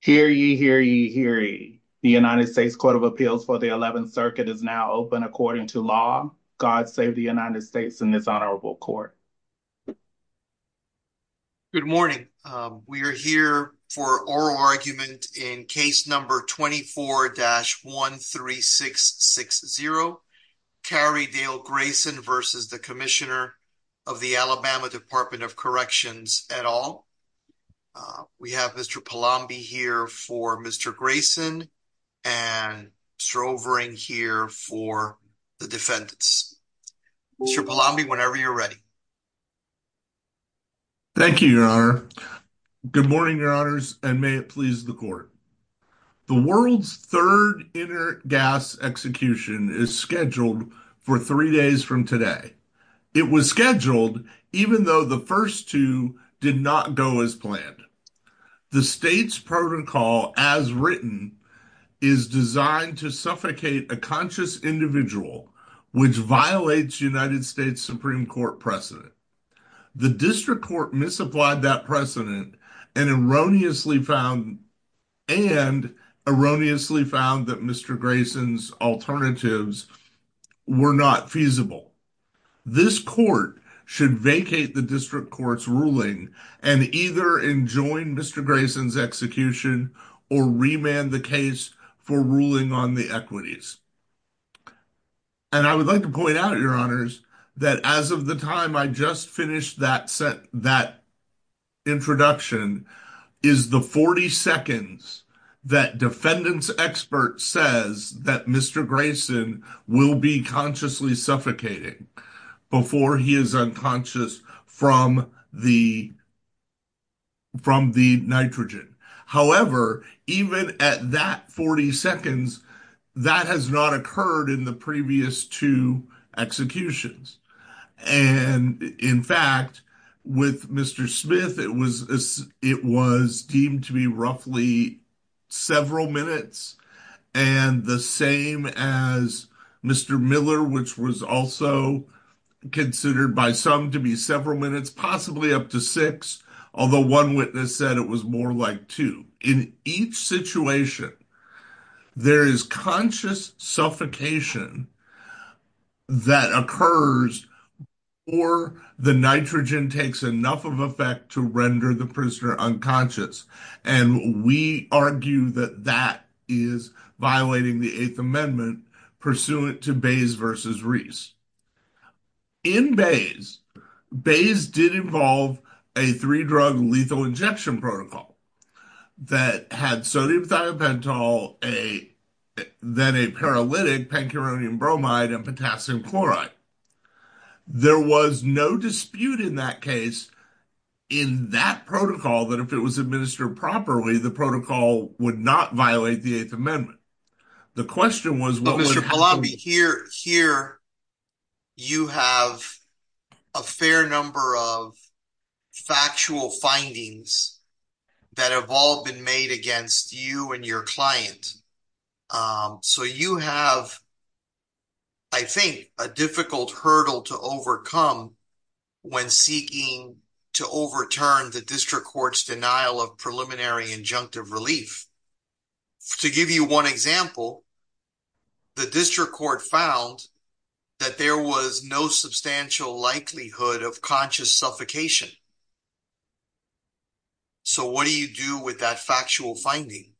Hear ye, hear ye, hear ye. The United States Court of Appeals for the 11th Circuit is now open according to law. God save the United States in this honorable court. Good morning. We are here for oral argument in case number 24-13660. Carey Dale Grayson versus the Commissioner of the Alabama Department of Corrections et al. We have Mr. Palombi here for Mr. Grayson and Mr. Overing here for the defendants. Mr. Palombi, whenever you're ready. Thank you, your honor. Good morning, your honors, and may it please the court. The world's third intergas execution is scheduled for three days from today. It was scheduled even though the first two did not go as planned. The state's protocol, as written, is designed to suffocate a conscious individual, which violates United States Supreme Court precedent. The district court misapplied that precedent and erroneously found and erroneously found that Mr. Grayson's alternatives were not feasible. This court should vacate the district court's ruling and either enjoin Mr. Grayson's execution or remand the case for ruling on the equities. And I would like to point out, your honors, that as of the time I just finished that set, that introduction is the 40 seconds that defendants expert says that Mr. Grayson will be consciously suffocating before he is unconscious from the. From the nitrogen, however, even at that 40 seconds, that has not occurred in the previous two executions. And in fact, with Mr. Smith, it was it was deemed to be roughly several minutes and the same as Mr. Miller, which was also considered by some to be several minutes, possibly up to six. Although one witness said it was more like two. In each situation, there is conscious suffocation that occurs or the nitrogen takes enough of effect to render the prisoner unconscious. And we argue that that is violating the 8th Amendment pursuant to Bays versus Reese. In Bays, Bays did involve a three drug lethal injection protocol that had sodium thiobentol, a then a paralytic pancuronium bromide and potassium chloride. There was no dispute in that case in that protocol that if it was administered properly, the protocol would not violate the 8th Amendment. The question was, what was your lobby here? Here you have a fair number of factual findings that have all been made against you and your client. So you have, I think, a difficult hurdle to overcome when seeking to overturn the district court's denial of preliminary injunctive relief. To give you one example, the district court found that there was no substantial likelihood of conscious suffocation. So what do you do with that factual finding?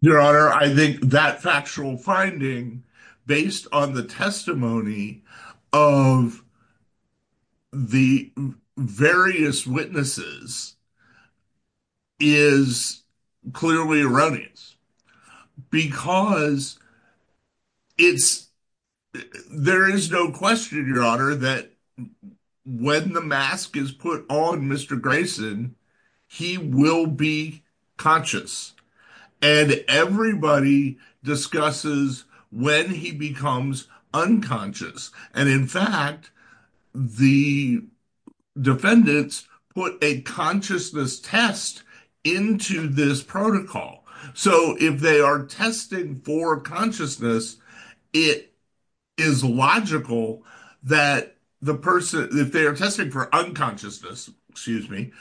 Your Honor, I think that factual finding, based on the testimony of the various witnesses, is clearly erroneous. Because there is no question, Your Honor, that when the mask is put on Mr. Grayson, he will be conscious. And everybody discusses when he becomes unconscious. And in fact, the defendants put a consciousness test into this protocol. So if they are testing for consciousness, it is logical that the person, if they are testing for unconsciousness, excuse me,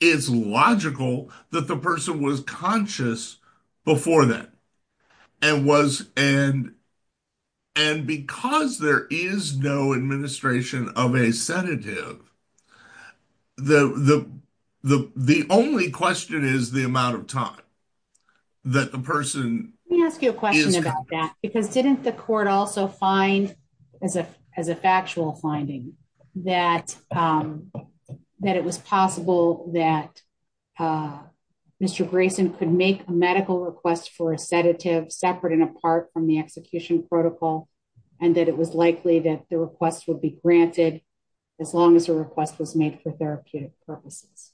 it's logical that the person was conscious before that. And because there is no administration of a sedative, the only question is the amount of time that the person- Let me ask you a question about that. Didn't the court also find, as a factual finding, that it was possible that Mr. Grayson could make a medical request for a sedative, separate and apart from the execution protocol, and that it was likely that the request would be granted as long as the request was made for therapeutic purposes?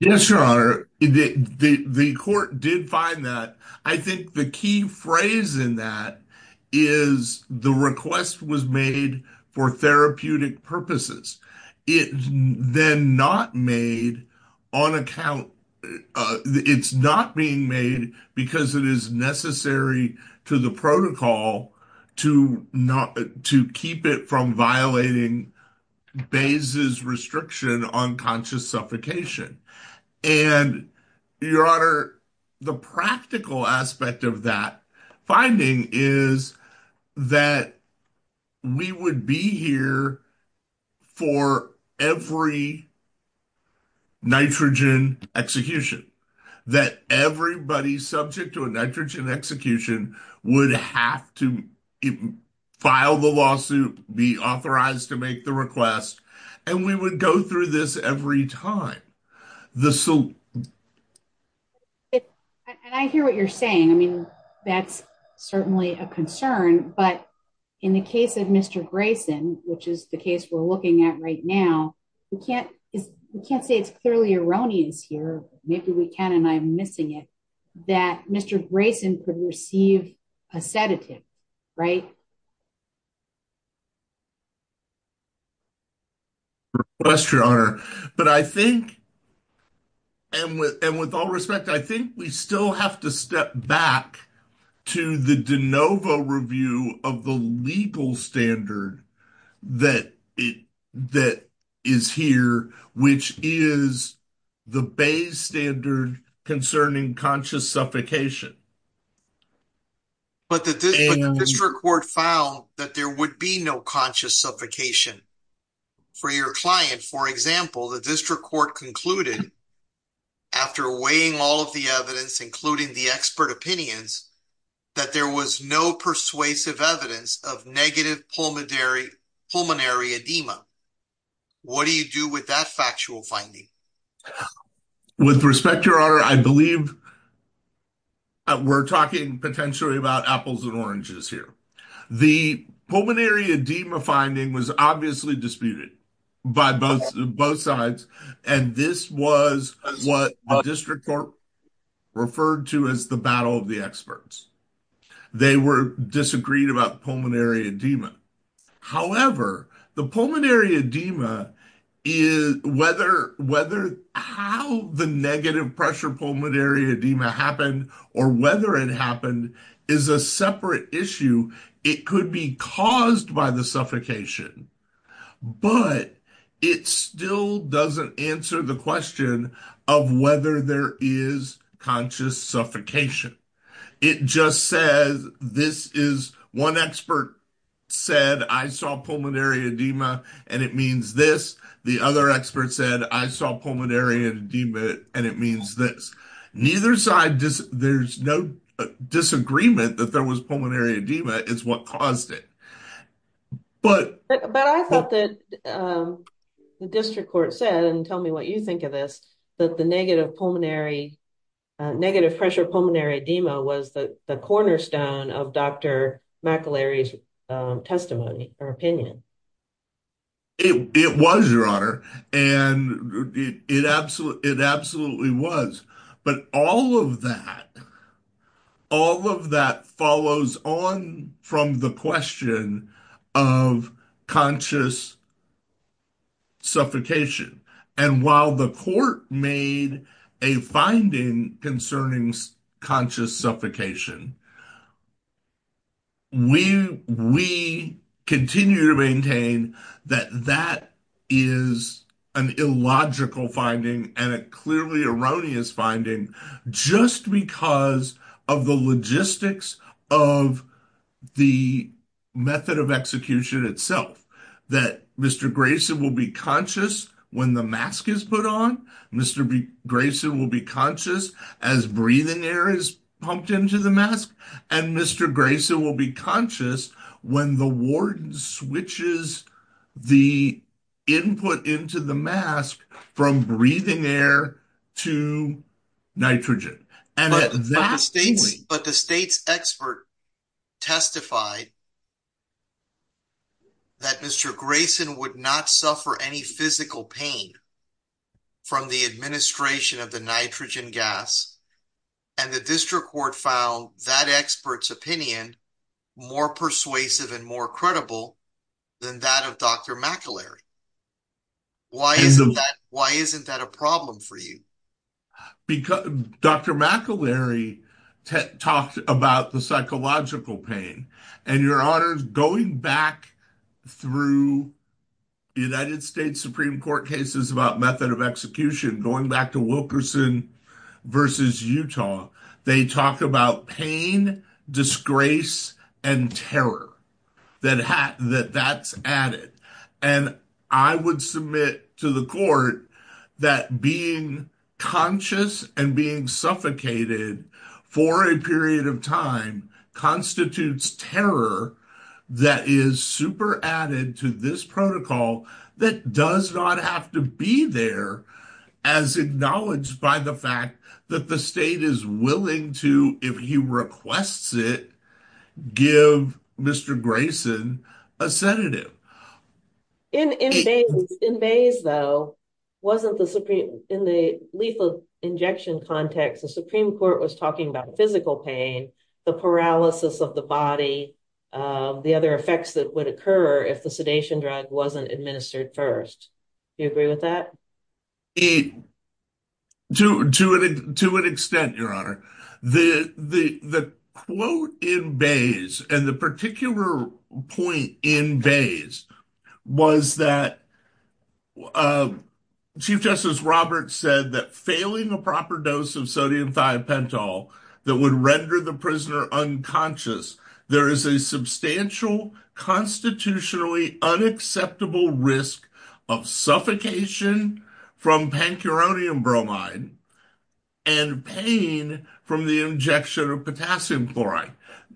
Yes, Your Honor. The court did find that. I think the key phrase in that is the request was made for therapeutic purposes. It's then not made on account- It's not being made because it is necessary to the protocol to keep it from violating Bayes' restriction on conscious suffocation. And, Your Honor, the practical aspect of that finding is that we would be here for every nitrogen execution, that everybody subject to a nitrogen execution would have to file the lawsuit, be authorized to make the request, and we would go through this every time. And I hear what you're saying. I mean, that's certainly a concern, but in the case of Mr. Grayson, which is the case we're looking at right now, we can't say it's clearly erroneous here, maybe we can and I'm missing it, that Mr. Grayson could receive a sedative, right? That's true, Your Honor. But I think, and with all respect, I think we still have to step back to the de novo review of the legal standard that is here, which is the Bayes' standard concerning conscious suffocation. But the district court found that there would be no conscious suffocation. For your client, for example, the district court concluded, after weighing all of the evidence, including the expert opinions, that there was no persuasive evidence of negative pulmonary edema. What do you do with that factual finding? With respect, Your Honor, I believe we're talking potentially about apples and oranges here. The pulmonary edema finding was obviously disputed by both sides, and this was what the district court referred to as the battle of the experts. They were disagreed about pulmonary edema. However, the pulmonary edema, whether how the negative pressure pulmonary edema happened, or whether it happened, is a separate issue. It could be caused by the suffocation, but it still doesn't answer the question of whether there is conscious suffocation. It just says, this is, one expert said, I saw pulmonary edema, and it means this. The other expert said, I saw pulmonary edema, and it means this. Neither side, there's no disagreement that there was pulmonary edema. It's what caused it. But I thought that the district court said, and tell me what you think of this, that the negative pulmonary, negative pressure pulmonary edema, was the cornerstone of Dr. McIllary's testimony or opinion. It was, Your Honor, and it absolutely was. But all of that, all of that follows on from the question of conscious suffocation. And while the court made a finding concerning conscious suffocation, we continue to maintain that that is an illogical finding and a clearly erroneous finding, just because of the logistics of the method of execution itself. That Mr. Graveson will be conscious when the mask is put on. Mr. Graveson will be conscious as breathing air is pumped into the mask. And Mr. Graveson will be conscious when the warden switches the input into the mask from breathing air to nitrogen. But the state's expert testified that Mr. Graveson would not suffer any physical pain from the administration of the nitrogen gas. And the district court found that expert's opinion more persuasive and more credible than that of Dr. McIllary. Why isn't that a problem for you? Dr. McIllary talked about the psychological pain. And, Your Honor, going back through the United States Supreme Court cases about method of execution, going back to Wilkerson versus Utah, they talk about pain, disgrace, and terror that that's added. And I would submit to the court that being conscious and being suffocated for a period of time constitutes terror that is super added to this protocol that does not have to be there as acknowledged by the fact that the state is willing to, if he requests it, give Mr. Graveson a sedative. In Bays, though, in the lethal injection context, the Supreme Court was talking about physical pain, the paralysis of the body, the other effects that would occur if the sedation drug wasn't administered first. Do you agree with that? To an extent, Your Honor. The quote in Bays and the particular point in Bays was that Chief Justice Roberts said that failing a proper dose of sodium thiopental that would render the prisoner unconscious, there is a substantial constitutionally unacceptable risk of suffocation from pancuronium bromide and pain from the injection of potassium chloride.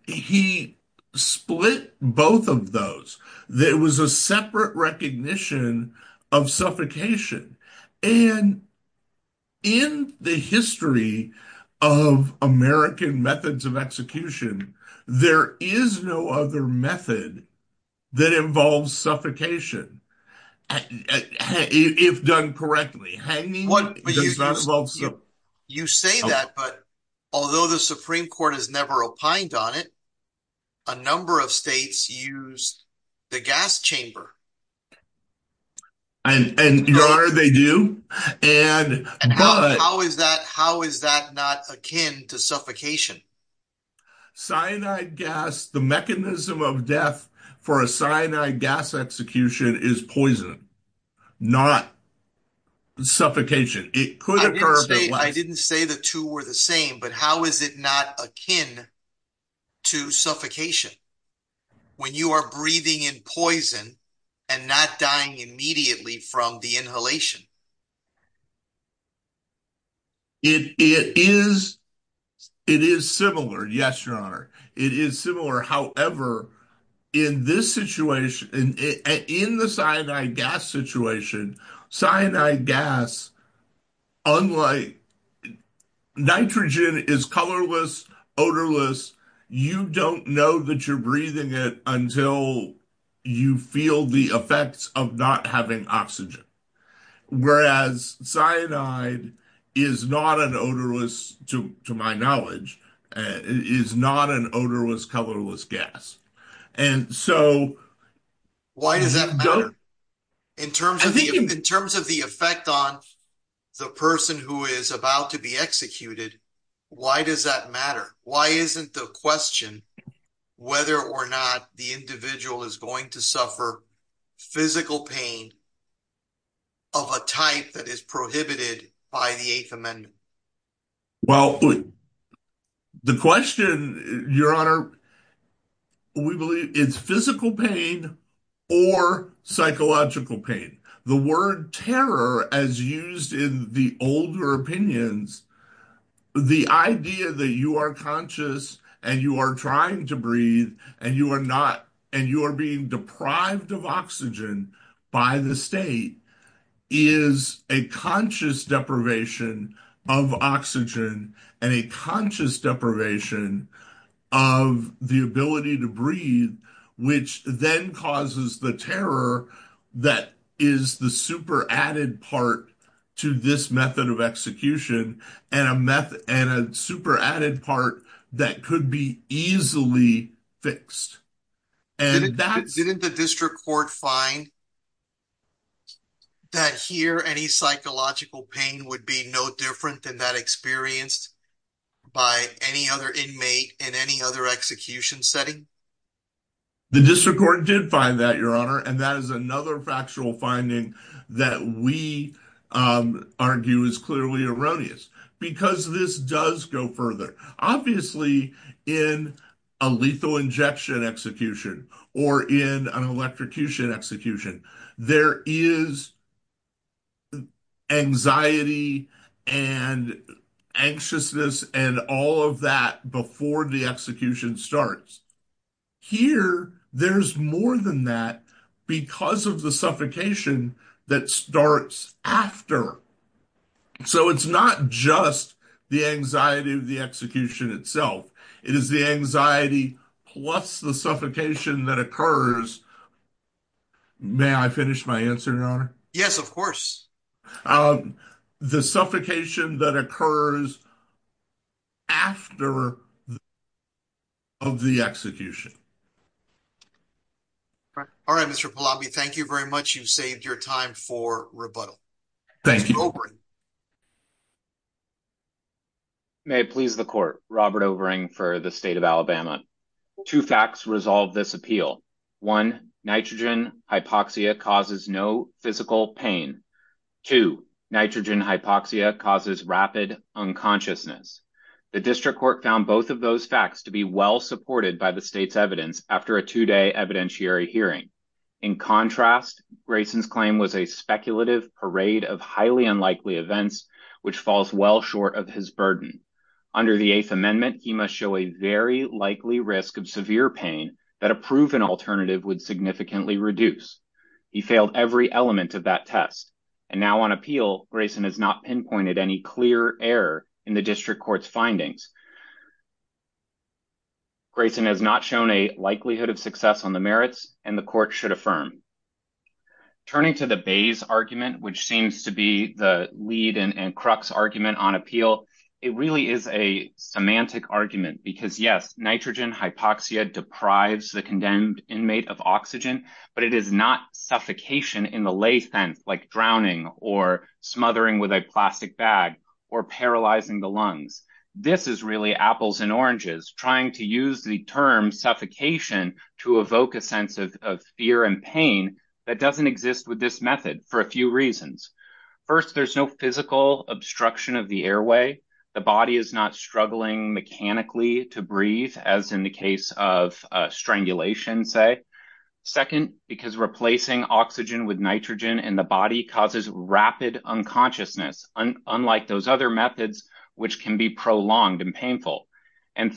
He split both of those. There was a separate recognition of suffocation. And in the history of American methods of execution, there is no other method that involves suffocation, if done correctly. You say that, but although the Supreme Court has never opined on it, a number of states use the gas chamber. And Your Honor, they do. How is that not akin to suffocation? Cyanide gas, the mechanism of death for a cyanide gas execution is poison, not suffocation. It could occur- I didn't say the two were the same, but how is it not akin to suffocation? When you are breathing in poison and not dying immediately from the inhalation? It is similar, yes, Your Honor. It is similar. However, in the cyanide gas situation, cyanide gas, unlike nitrogen, is colorless, odorless. You don't know that you're breathing it you feel the effects of not having oxygen. Whereas cyanide is not an odorless, to my knowledge, is not an odorless, colorless gas. And so- Why does that matter? In terms of the effect on the person who is about to be executed, why does that matter? Why isn't the question whether or not the individual is going to suffer physical pain of a type that is prohibited by the Eighth Amendment? Well, the question, Your Honor, we believe it's physical pain or psychological pain. The word terror, as used in the older opinions, the idea that you are conscious and you are trying to breathe and you are being deprived of oxygen by the state is a conscious deprivation of oxygen and a conscious deprivation of the ability to breathe, which then causes the terror that is the super added part to this method of execution and a method and a super added part that could be easily fixed. Didn't the district court find that here any psychological pain would be no different than that experienced by any other inmate in any other execution setting? The district court did find that, Your Honor, and that is another factual finding that we argue is clearly erroneous because this does go further. Obviously, in a lethal injection execution or in an electrocution execution, there is anxiety and anxiousness and all of that before the execution starts. Here, there's more than that because of the suffocation that starts after. It's not just the anxiety of the execution itself. It is the anxiety plus the suffocation that occurs. May I finish my answer, Your Honor? Yes, of course. The suffocation that occurs after of the execution. All right, Mr. Pallabi, thank you very much. You've saved your time for rebuttal. Thank you. May it please the court. Robert Overing for the state of Alabama. Two facts resolve this appeal. One, nitrogen hypoxia causes no physical pain. Two, nitrogen hypoxia causes rapid unconsciousness. The district court found both of those facts to be well supported by the state's evidence after a two-day evidentiary hearing. In contrast, Grayson's claim was a parade of highly unlikely events, which falls well short of his burden. Under the Eighth Amendment, he must show a very likely risk of severe pain that a proven alternative would significantly reduce. He failed every element of that test. Now on appeal, Grayson has not pinpointed any clear error in the district court's findings. Grayson has not shown a likelihood of success on the which seems to be the lead and crux argument on appeal. It really is a semantic argument because, yes, nitrogen hypoxia deprives the condemned inmate of oxygen, but it is not suffocation in the lay sense, like drowning or smothering with a plastic bag or paralyzing the lungs. This is really apples and oranges, trying to use the term suffocation to evoke a sense of fear and pain that does not exist with this method for a few reasons. First, there is no physical obstruction of the airway. The body is not struggling mechanically to breathe, as in the case of strangulation, say. Second, because replacing oxygen with nitrogen in the body causes rapid unconsciousness, unlike those other methods, which can be prolonged and painful.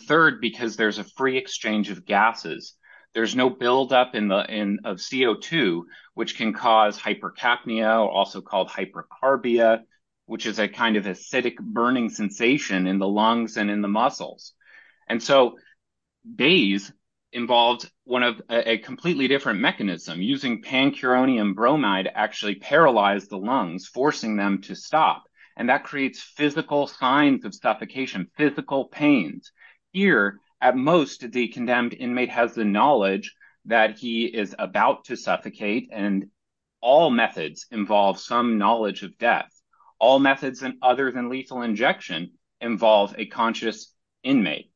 Third, because there is a free exchange of gases, there is no buildup of CO2, which can cause hypercapnia, also called hypercarbia, which is a kind of acidic burning sensation in the lungs and in the muscles. Bayes involved a completely different mechanism, using pancuronium bromide to actually paralyze the lungs, forcing them to stop. That creates physical signs of suffocation, physical pains. Here, at most, the condemned inmate has the knowledge that he is about to suffocate, and all methods involve some knowledge of death. All methods, other than lethal injection, involve a conscious inmate.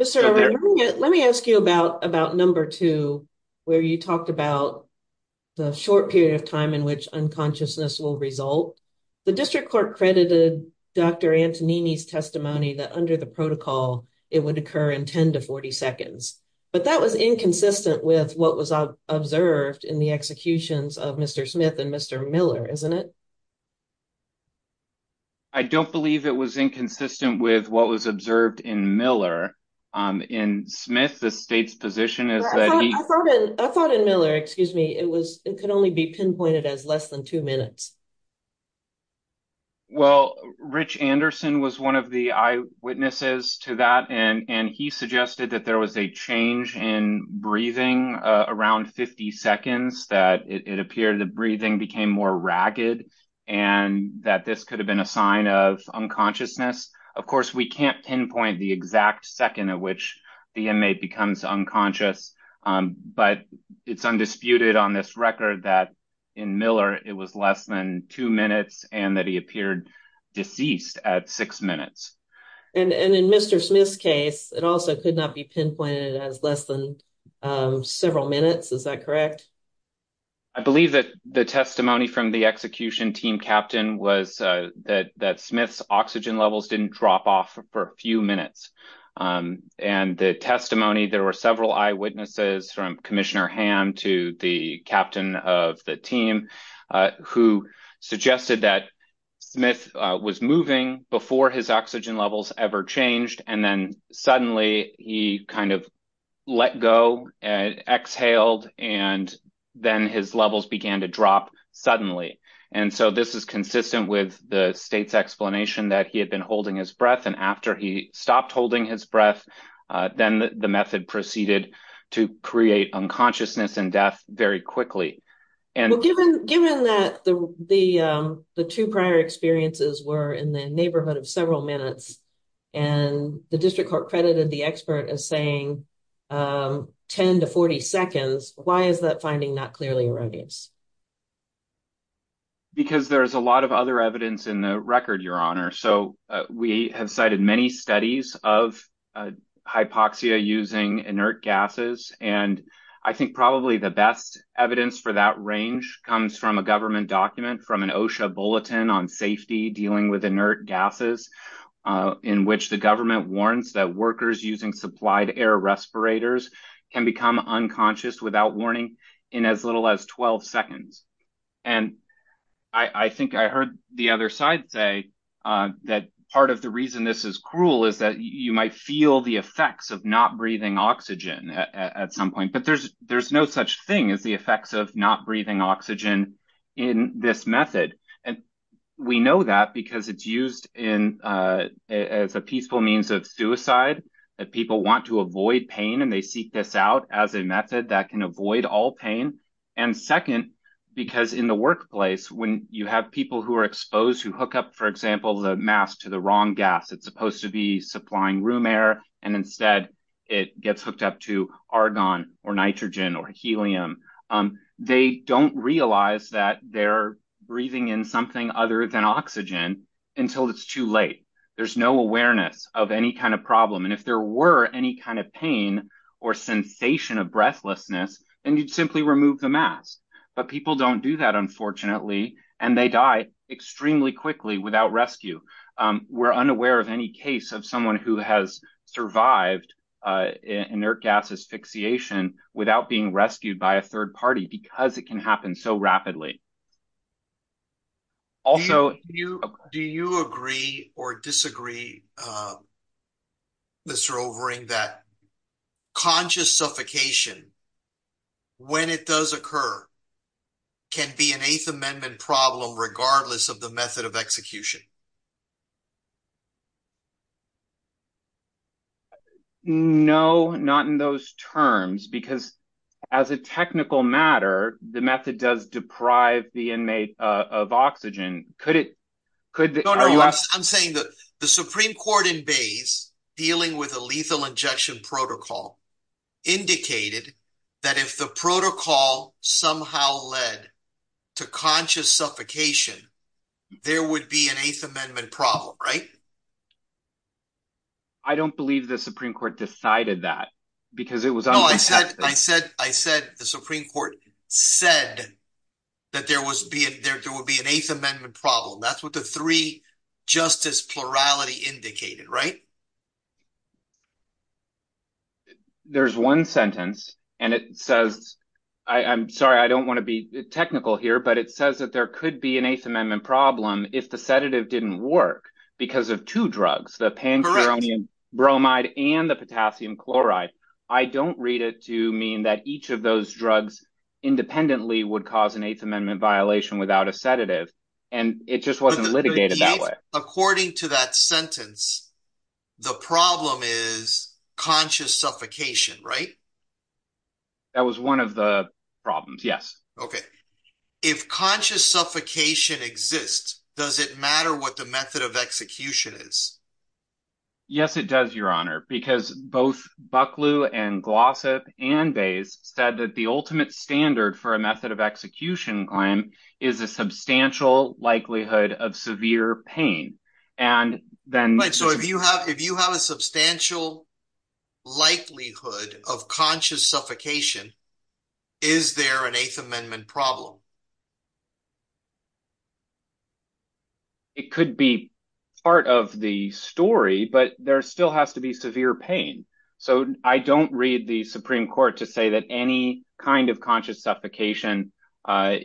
Mr. O'Reilly, let me ask you about number two, where you talked about the short period of time in which unconsciousness will result. The district court credited Dr. Antonini's testimony that under the protocol, it would occur in 10 to 40 seconds, but that was inconsistent with what was observed in the executions of Mr. Smith and Mr. Miller, isn't it? I don't believe it was inconsistent with what was observed in Miller. In Smith, the state's pinpointed as less than two minutes. Well, Rich Anderson was one of the eyewitnesses to that, and he suggested that there was a change in breathing around 50 seconds, that it appeared the breathing became more ragged, and that this could have been a sign of unconsciousness. Of course, we can't pinpoint the exact second at which the inmate becomes unconscious, but it's undisputed on this record that in Miller, it was less than two minutes and that he appeared deceased at six minutes. And in Mr. Smith's case, it also could not be pinpointed as less than several minutes. Is that correct? I believe that the testimony from the execution team captain was that Smith's oxygen levels didn't drop off for a few minutes. And the testimony, there were several eyewitnesses, from Commissioner Hamm to the captain of the team, who suggested that Smith was moving before his oxygen levels ever changed. And then suddenly, he kind of let go and exhaled, and then his levels began to drop suddenly. And so this is consistent with the state's explanation that he had been holding his breath. And after he stopped holding his breath, then the method proceeded to create unconsciousness and death very quickly. Well, given that the two prior experiences were in the neighborhood of several minutes, and the district court credited the expert as saying 10 to 40 seconds, why is that finding not clearly erroneous? Because there's a lot of other evidence in the record, Your Honor. So we have cited many studies of hypoxia using inert gases. And I think probably the best evidence for that range comes from a government document from an OSHA bulletin on safety dealing with inert gases, in which the government warns that workers using supplied air respirators can become unconscious without warning in as little as 12 seconds. And I think I heard the other side say that part of the reason this is cruel is that you might feel the effects of not breathing oxygen at some point. But there's no such thing as the effects of not breathing oxygen in this method. And we know that because it's used as a peaceful means of suicide, that people want to avoid pain, and they seek this out as a method that can avoid all pain. And second, because in the workplace, when you have people who are exposed, who hook up, for example, the mask to the wrong gas, it's supposed to be supplying room air, and instead, it gets hooked up to argon or nitrogen or helium. They don't realize that they're breathing in something other than oxygen until it's too late. There's no awareness of any kind of problem. And if there were any kind of pain or sensation of breathlessness, then you'd simply remove the mask. But people don't do that, unfortunately. And they die extremely quickly without rescue. We're unaware of any case of someone who has survived inert gas asphyxiation without being rescued by a third No, not in those terms, because as a technical matter, the method does deprive the inmate of oxygen. I'm saying that the Supreme Court in Bays, dealing with a lethal injection protocol, indicated that if the protocol somehow led to conscious suffocation, there would be an Eighth Amendment problem, right? I don't believe the Supreme Court decided that, because it was unprotected. I said the Supreme Court said that there would be an Eighth Amendment problem. That's what the three justice plurality indicated, right? There's one sentence, and it says, I'm sorry, I don't want to be technical here, but it says that there could be an Eighth Amendment problem if the sedative didn't work because of two drugs, the pancuronium bromide and the potassium chloride. I don't read it to mean that each of those drugs independently would cause an Eighth Amendment violation without a sedative, and it just wasn't litigated that way. According to that sentence, the problem is conscious suffocation, right? That was one of the problems, yes. Okay. If conscious suffocation exists, does it matter what the method of execution is? Yes, it does, Your Honor, because both Bucklew and Glossop and Bayes said that the ultimate standard for a method of execution claim is a substantial likelihood of severe pain. If you have a substantial likelihood of conscious suffocation, is there an Eighth Amendment problem? It could be part of the story, but there still has to be severe pain. So, I don't read the Supreme Court to say that any kind of conscious suffocation per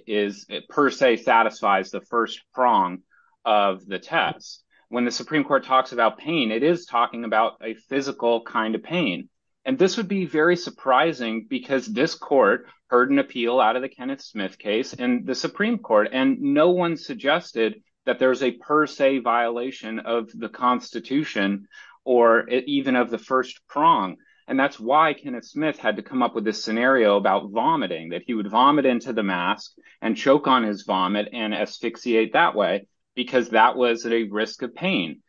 se satisfies the first prong of the test. When the Supreme Court talks about pain, it is talking about a physical kind of pain, and this would be very surprising because this court heard an appeal out of the Kenneth Smith case in the Supreme Court, and no one suggested that there's a per se violation of the Constitution or even of the first prong, and that's why Kenneth Smith had to come up with this scenario about vomiting, that he would vomit into the mask and choke on his vomit and asphyxiate that way because that was at a risk of pain.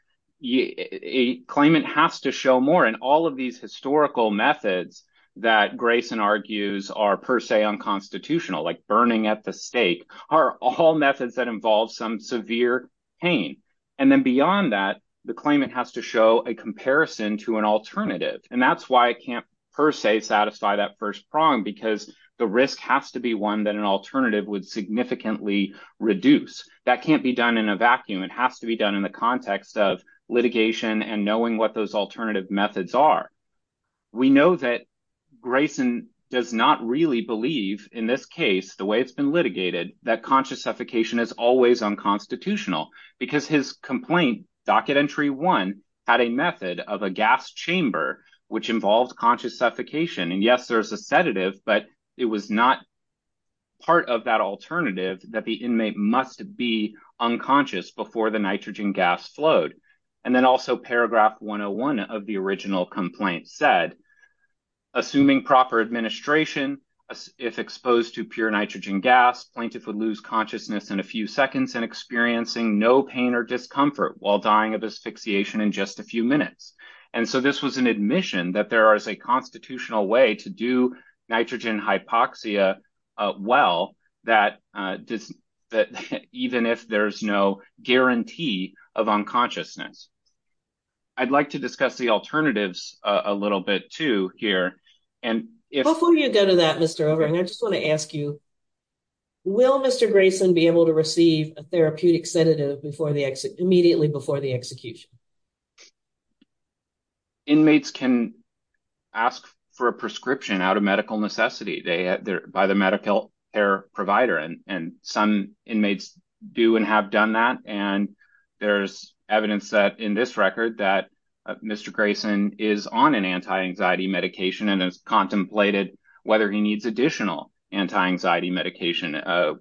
A claimant has to show more, and all of these historical methods that Grayson argues are per se unconstitutional, like burning at the stake, are all methods that involve some severe pain, and then beyond that, the claimant has to show a comparison to an alternative, and that's why it can't per se satisfy that first prong because the risk has to be one that an alternative would significantly reduce. That can't be done in a vacuum. It has to be done in the context of litigation and knowing what those alternative methods are. We know that Grayson does not really believe, in this case, the way it's been litigated, that conscious suffocation is always unconstitutional because his complaint, docket entry one, had a method of a gas chamber which involved conscious suffocation, and yes, there's a sedative, but it was not part of that alternative that the inmate must be unconscious before the nitrogen gas flowed, and then also paragraph 101 of the original complaint said, assuming proper administration, if exposed to pure nitrogen gas, plaintiff would lose consciousness in a few seconds and experiencing no pain or discomfort while dying of asphyxiation in just a few minutes, and so this was an admission that there is a constitutional way to do nitrogen hypoxia well, even if there's no guarantee of unconsciousness. I'd like to discuss the alternatives a little bit, too, here, and if... Before you go to that, Mr. O'Brien, I just want to ask you, will Mr. Grayson be able to receive a therapeutic sedative immediately before the execution? Inmates can ask for a prescription out of medical necessity by the medical care provider, and some inmates do and have done that, and there's evidence that, in this record, that Mr. Grayson is on an anti-anxiety medication and has contemplated whether he needs additional anti-anxiety medication. That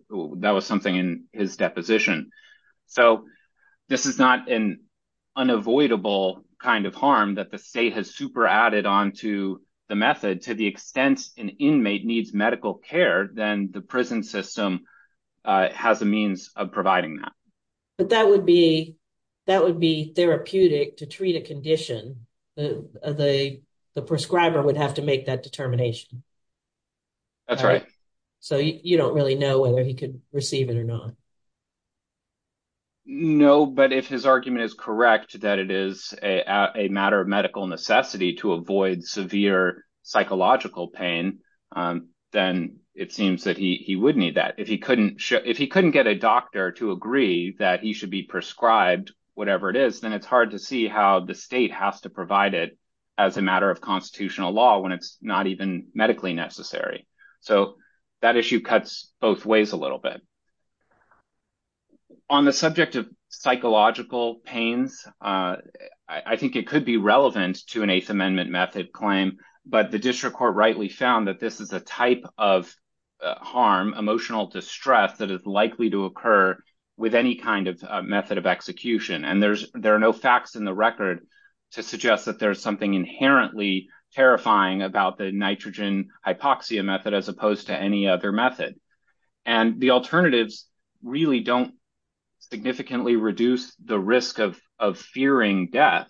was something in his deposition, so this is not an unavoidable kind of harm that the state has super-added onto the method to the extent an inmate needs medical care, then the prison system has a means of providing that. But that would be therapeutic to treat a condition. The prescriber would have to make that determination. That's right. So you don't really know whether he could receive it or not. No, but if his argument is correct that it is a matter of medical necessity to avoid severe psychological pain, then it seems that he would need that. If he couldn't get a doctor to agree that he should be prescribed whatever it is, then it's hard to see how the state has to provide it as a matter of constitutional law when it's not even medically necessary. So that issue cuts both ways a little bit. On the subject of psychological pains, I think it could be relevant to an Eighth Amendment method claim, but the district court rightly found that this is a type of harm, emotional distress, that is likely to occur with any kind of method of execution. And there are no facts in the record to suggest that there is something inherently terrifying about the nitrogen hypoxia method as opposed to any other method. And the alternatives really don't significantly reduce the risk of fearing death.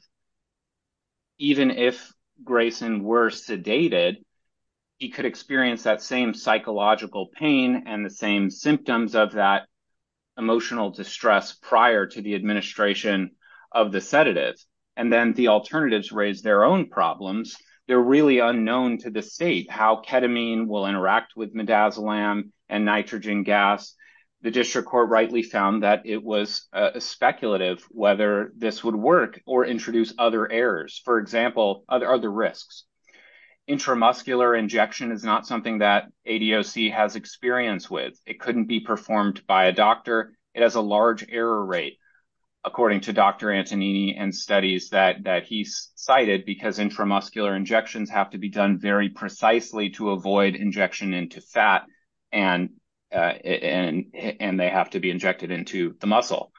Even if Grayson were sedated, he could experience that same psychological pain and the same symptoms of that emotional distress prior to the administration of the sedatives. And then the alternatives raise their own problems. They're really unknown to the state how ketamine will interact with midazolam and nitrogen gas. The district court rightly found that it was speculative whether this would work or introduce other errors. For example, other risks. Intramuscular injection is not something that ADOC has experience with. It couldn't be performed by a doctor. It has a large error rate, according to Dr. Antonini and studies that he cited, because intramuscular injections have to be done very precisely to avoid injection into fat and they have to be injected into the muscle.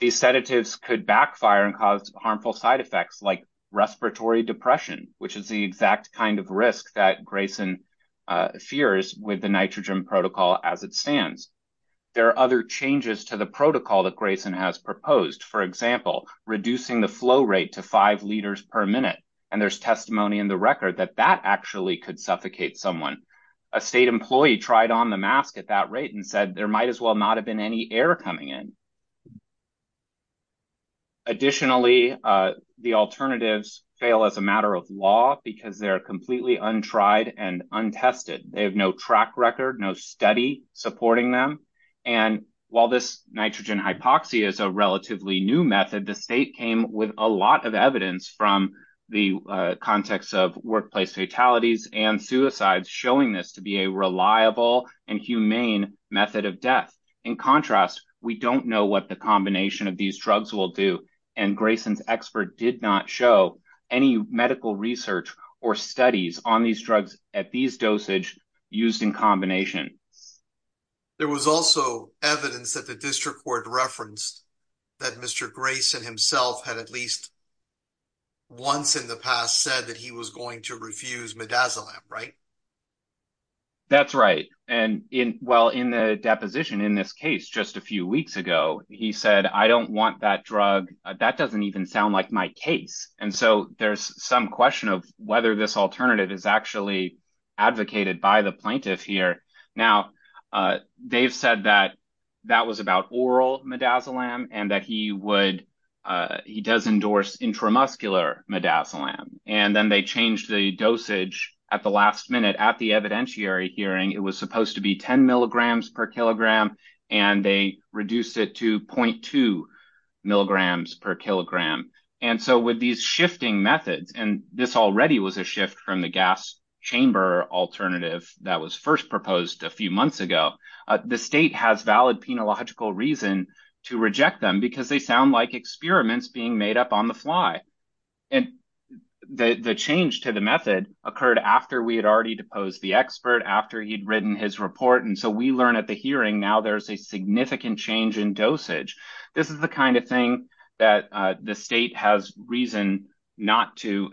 These sedatives could backfire and cause harmful side effects like respiratory depression, which is the exact kind of risk that Grayson fears with the nitrogen protocol as it stands. There are other changes to the protocol that Grayson has proposed. For example, reducing the flow rate to five liters per minute. And there's testimony in the record that that actually could suffocate someone. A state employee tried on the mask at that rate and said there might as well not have been any air coming in. Additionally, the alternatives fail as a matter of law because they're completely untried and untested. They have no track record, no study supporting them. And while this nitrogen hypoxia is a relatively new method, the state came with a lot of evidence from the context of workplace fatalities and suicides showing this to be a reliable and humane method of death. In contrast, we don't know what the combination of these drugs will do. And Grayson's expert did not show any medical research or studies on these drugs at dosage used in combination. There was also evidence that the district court referenced that Mr. Grayson himself had at least once in the past said that he was going to refuse midazolam, right? That's right. And in, well, in the deposition in this case, just a few weeks ago, he said, I don't want that drug. That doesn't even sound like my case. And so there's some question of whether this alternative is actually advocated by the plaintiff here. Now, they've said that that was about oral midazolam and that he would, he does endorse intramuscular midazolam. And then they changed the dosage at the last minute at the evidentiary hearing. It was supposed to be 10 milligrams per kilogram, and they reduced it to 0.2 milligrams per kilogram. And so with these shifting methods, and this already was a shift from the gas chamber alternative that was first proposed a few months ago, the state has valid penological reason to reject them because they sound like experiments being made up on the fly. And the change to the method occurred after we had already deposed the expert, after he'd written his report. And so we learn at the hearing now there's a significant change in dosage. This is the kind of thing that the state has reason not to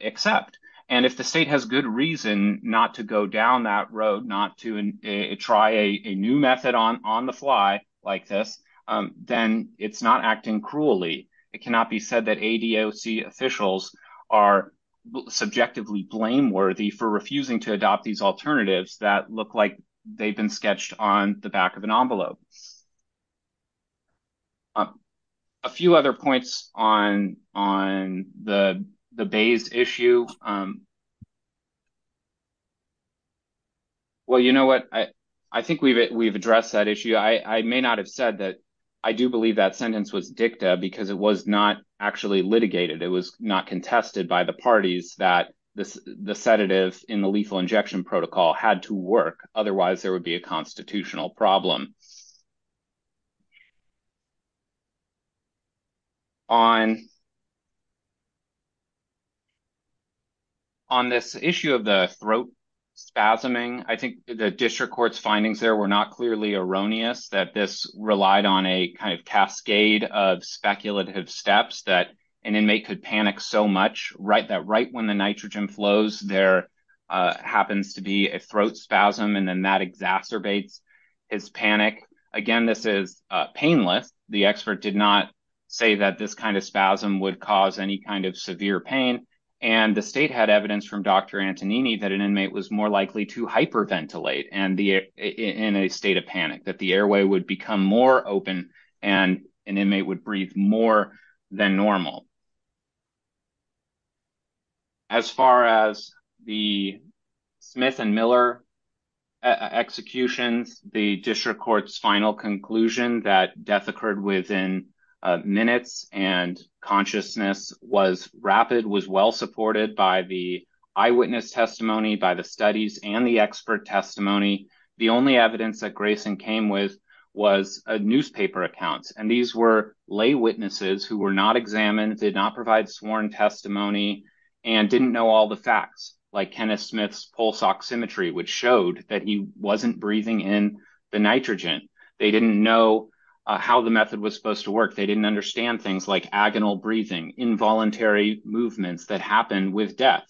accept. And if the state has good reason not to go down that road, not to try a new method on the fly like this, then it's not acting cruelly. It cannot be said that ADOC officials are subjectively blameworthy for refusing to adopt these alternatives that look like they've been sketched on the back of an ad. A few other points on the Bayes issue. Well, you know what? I think we've addressed that issue. I may not have said that. I do believe that sentence was dicta because it was not actually litigated. It was not contested by the parties that the sedative in the lethal injection protocol had to work. Otherwise, there would be a constitutional problem. On this issue of the throat spasming, I think the district court's findings there were not clearly erroneous that this relied on a kind of cascade of speculative steps that an inmate could panic so much that right when the nitrogen flows, there happens to be a throat spasm, and then that exacerbates his panic. Again, this is painless. The expert did not say that this kind of spasm would cause any kind of severe pain. And the state had evidence from Dr. Antonini that an inmate was more likely to hyperventilate in a state of panic, that the airway would become more open and an inmate would breathe more than normal. As far as the Smith and Miller executions, the district court's final conclusion that death occurred within minutes and consciousness was rapid, was well-supported by the eyewitness testimony, by the studies, and the expert testimony. The only evidence that Grayson came with was newspaper accounts, and these were lay witnesses who were not examined, did not provide sworn testimony, and didn't know all the facts, like Kenneth Smith's pulse oximetry, which showed that he wasn't breathing in the nitrogen. They didn't know how the method was supposed to work. They didn't understand things like agonal breathing, involuntary movements that happen with death.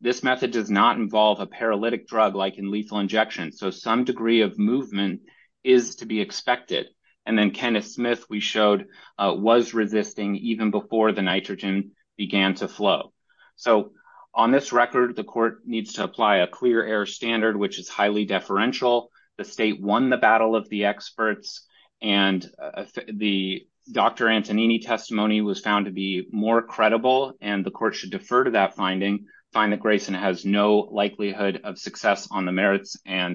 This method does not involve a paralytic drug like in lethal injection, so some degree of movement is to be expected. And then Kenneth Smith, we showed, was resisting even before the nitrogen began to flow. So, on this record, the court needs to apply a clear air standard, which is highly deferential. The state won the battle of the experts, and the Dr. Antonini testimony was found to be more credible, and the court should defer to that finding, find that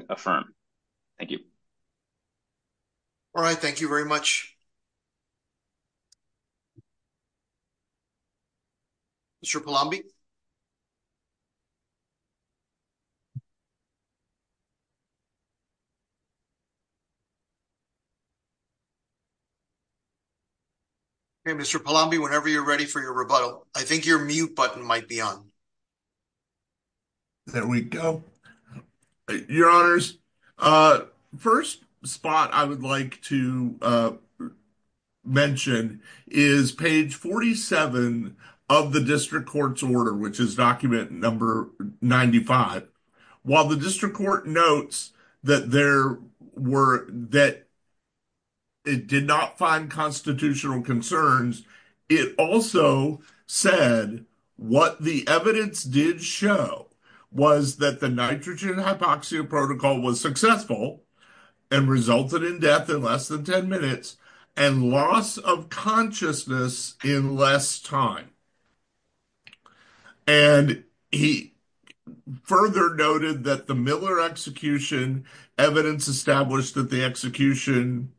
affirm. Thank you. All right, thank you very much. Mr. Palombi? Okay, Mr. Palombi, whenever you're ready for your rebuttal. I think your mute button might be on. There we go. Your honors, first spot I would like to mention is page 47 of the district court's order, which is document number 95. While the district court notes that it did not find unconstitutional concerns, it also said what the evidence did show was that the nitrogen hypoxia protocol was successful and resulted in death in less than 10 minutes and loss of consciousness in less time. And he further noted that the Miller execution evidence established that the execution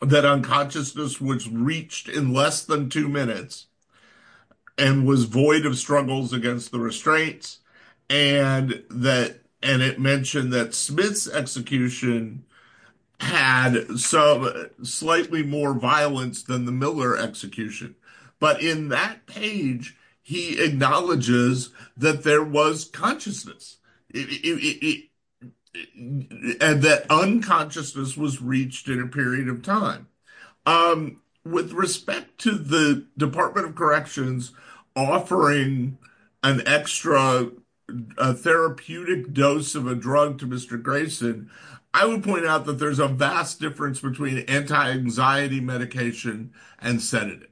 that unconsciousness was reached in less than two minutes and was void of struggles against the restraints. And it mentioned that Smith's execution had some slightly more violence than the Miller execution. But in that page, he acknowledges that there was consciousness, and that unconsciousness was reached in a period of time. With respect to the Department of Corrections offering an extra therapeutic dose of a drug to Mr. Grayson, I would point out that there's a vast difference between anti-anxiety medication and sedative.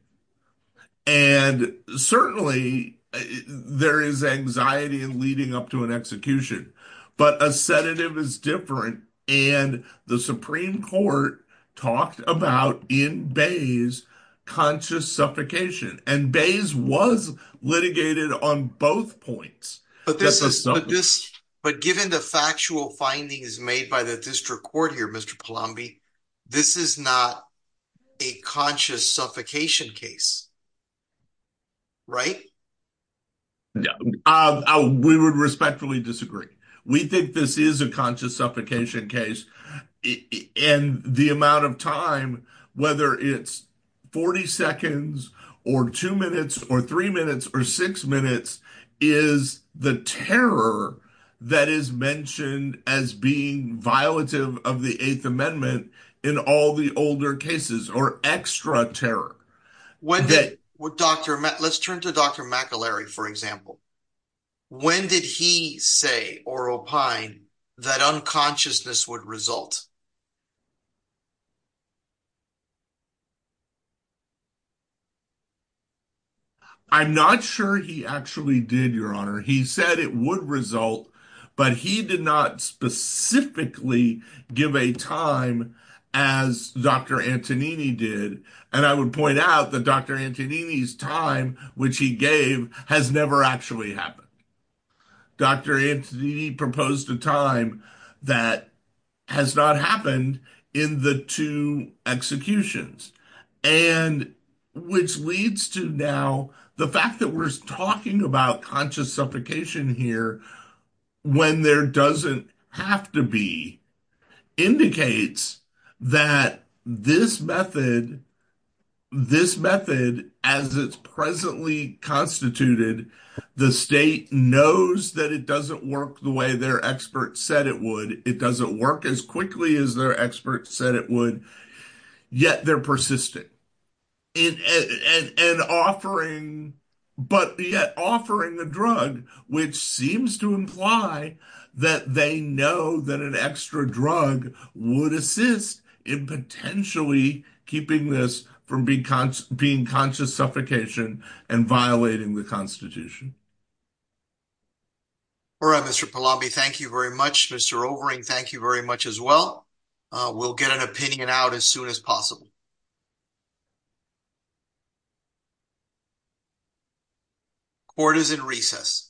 And certainly, there is anxiety in leading up to an execution, but a sedative is different. And the Supreme Court talked about, in Bays, conscious suffocation. And Bays was litigated on both points. But given the factual findings made by the district court here, Mr. Palombi, this is not a conscious suffocation case, right? Yeah, we would respectfully disagree. We think this is a conscious suffocation case. And the amount of time, whether it's 40 seconds, or two minutes, or three minutes, or six minutes, is the terror that is mentioned as being violative of the Eighth Amendment in all the older cases, or extra terror. Let's turn to Dr. McElary, for example. When did he say, or opine, that unconsciousness would result? I'm not sure he actually did, Your Honor. He said it would result, but he did not specifically give a time as Dr. Antonini did. And I would point out that Dr. Antonini's time, which he gave, has never actually happened. Dr. Antonini proposed a time that has not happened in the two executions. And which leads to now, the fact that we're talking about conscious suffocation here, when there doesn't have to be, indicates that this method, as it's presently constituted, the state knows that it doesn't work the way their experts said it would, it doesn't work as quickly as their experts said it would, yet they're persistent. And offering, but yet offering the drug, which seems to imply that they know that an extra drug would assist in potentially keeping this from being conscious suffocation and violating the Constitution. All right, Mr. Pallabi, thank you very much. Mr. Overing, thank you very much as well. We'll get an opinion out as soon as possible. Court is in recess.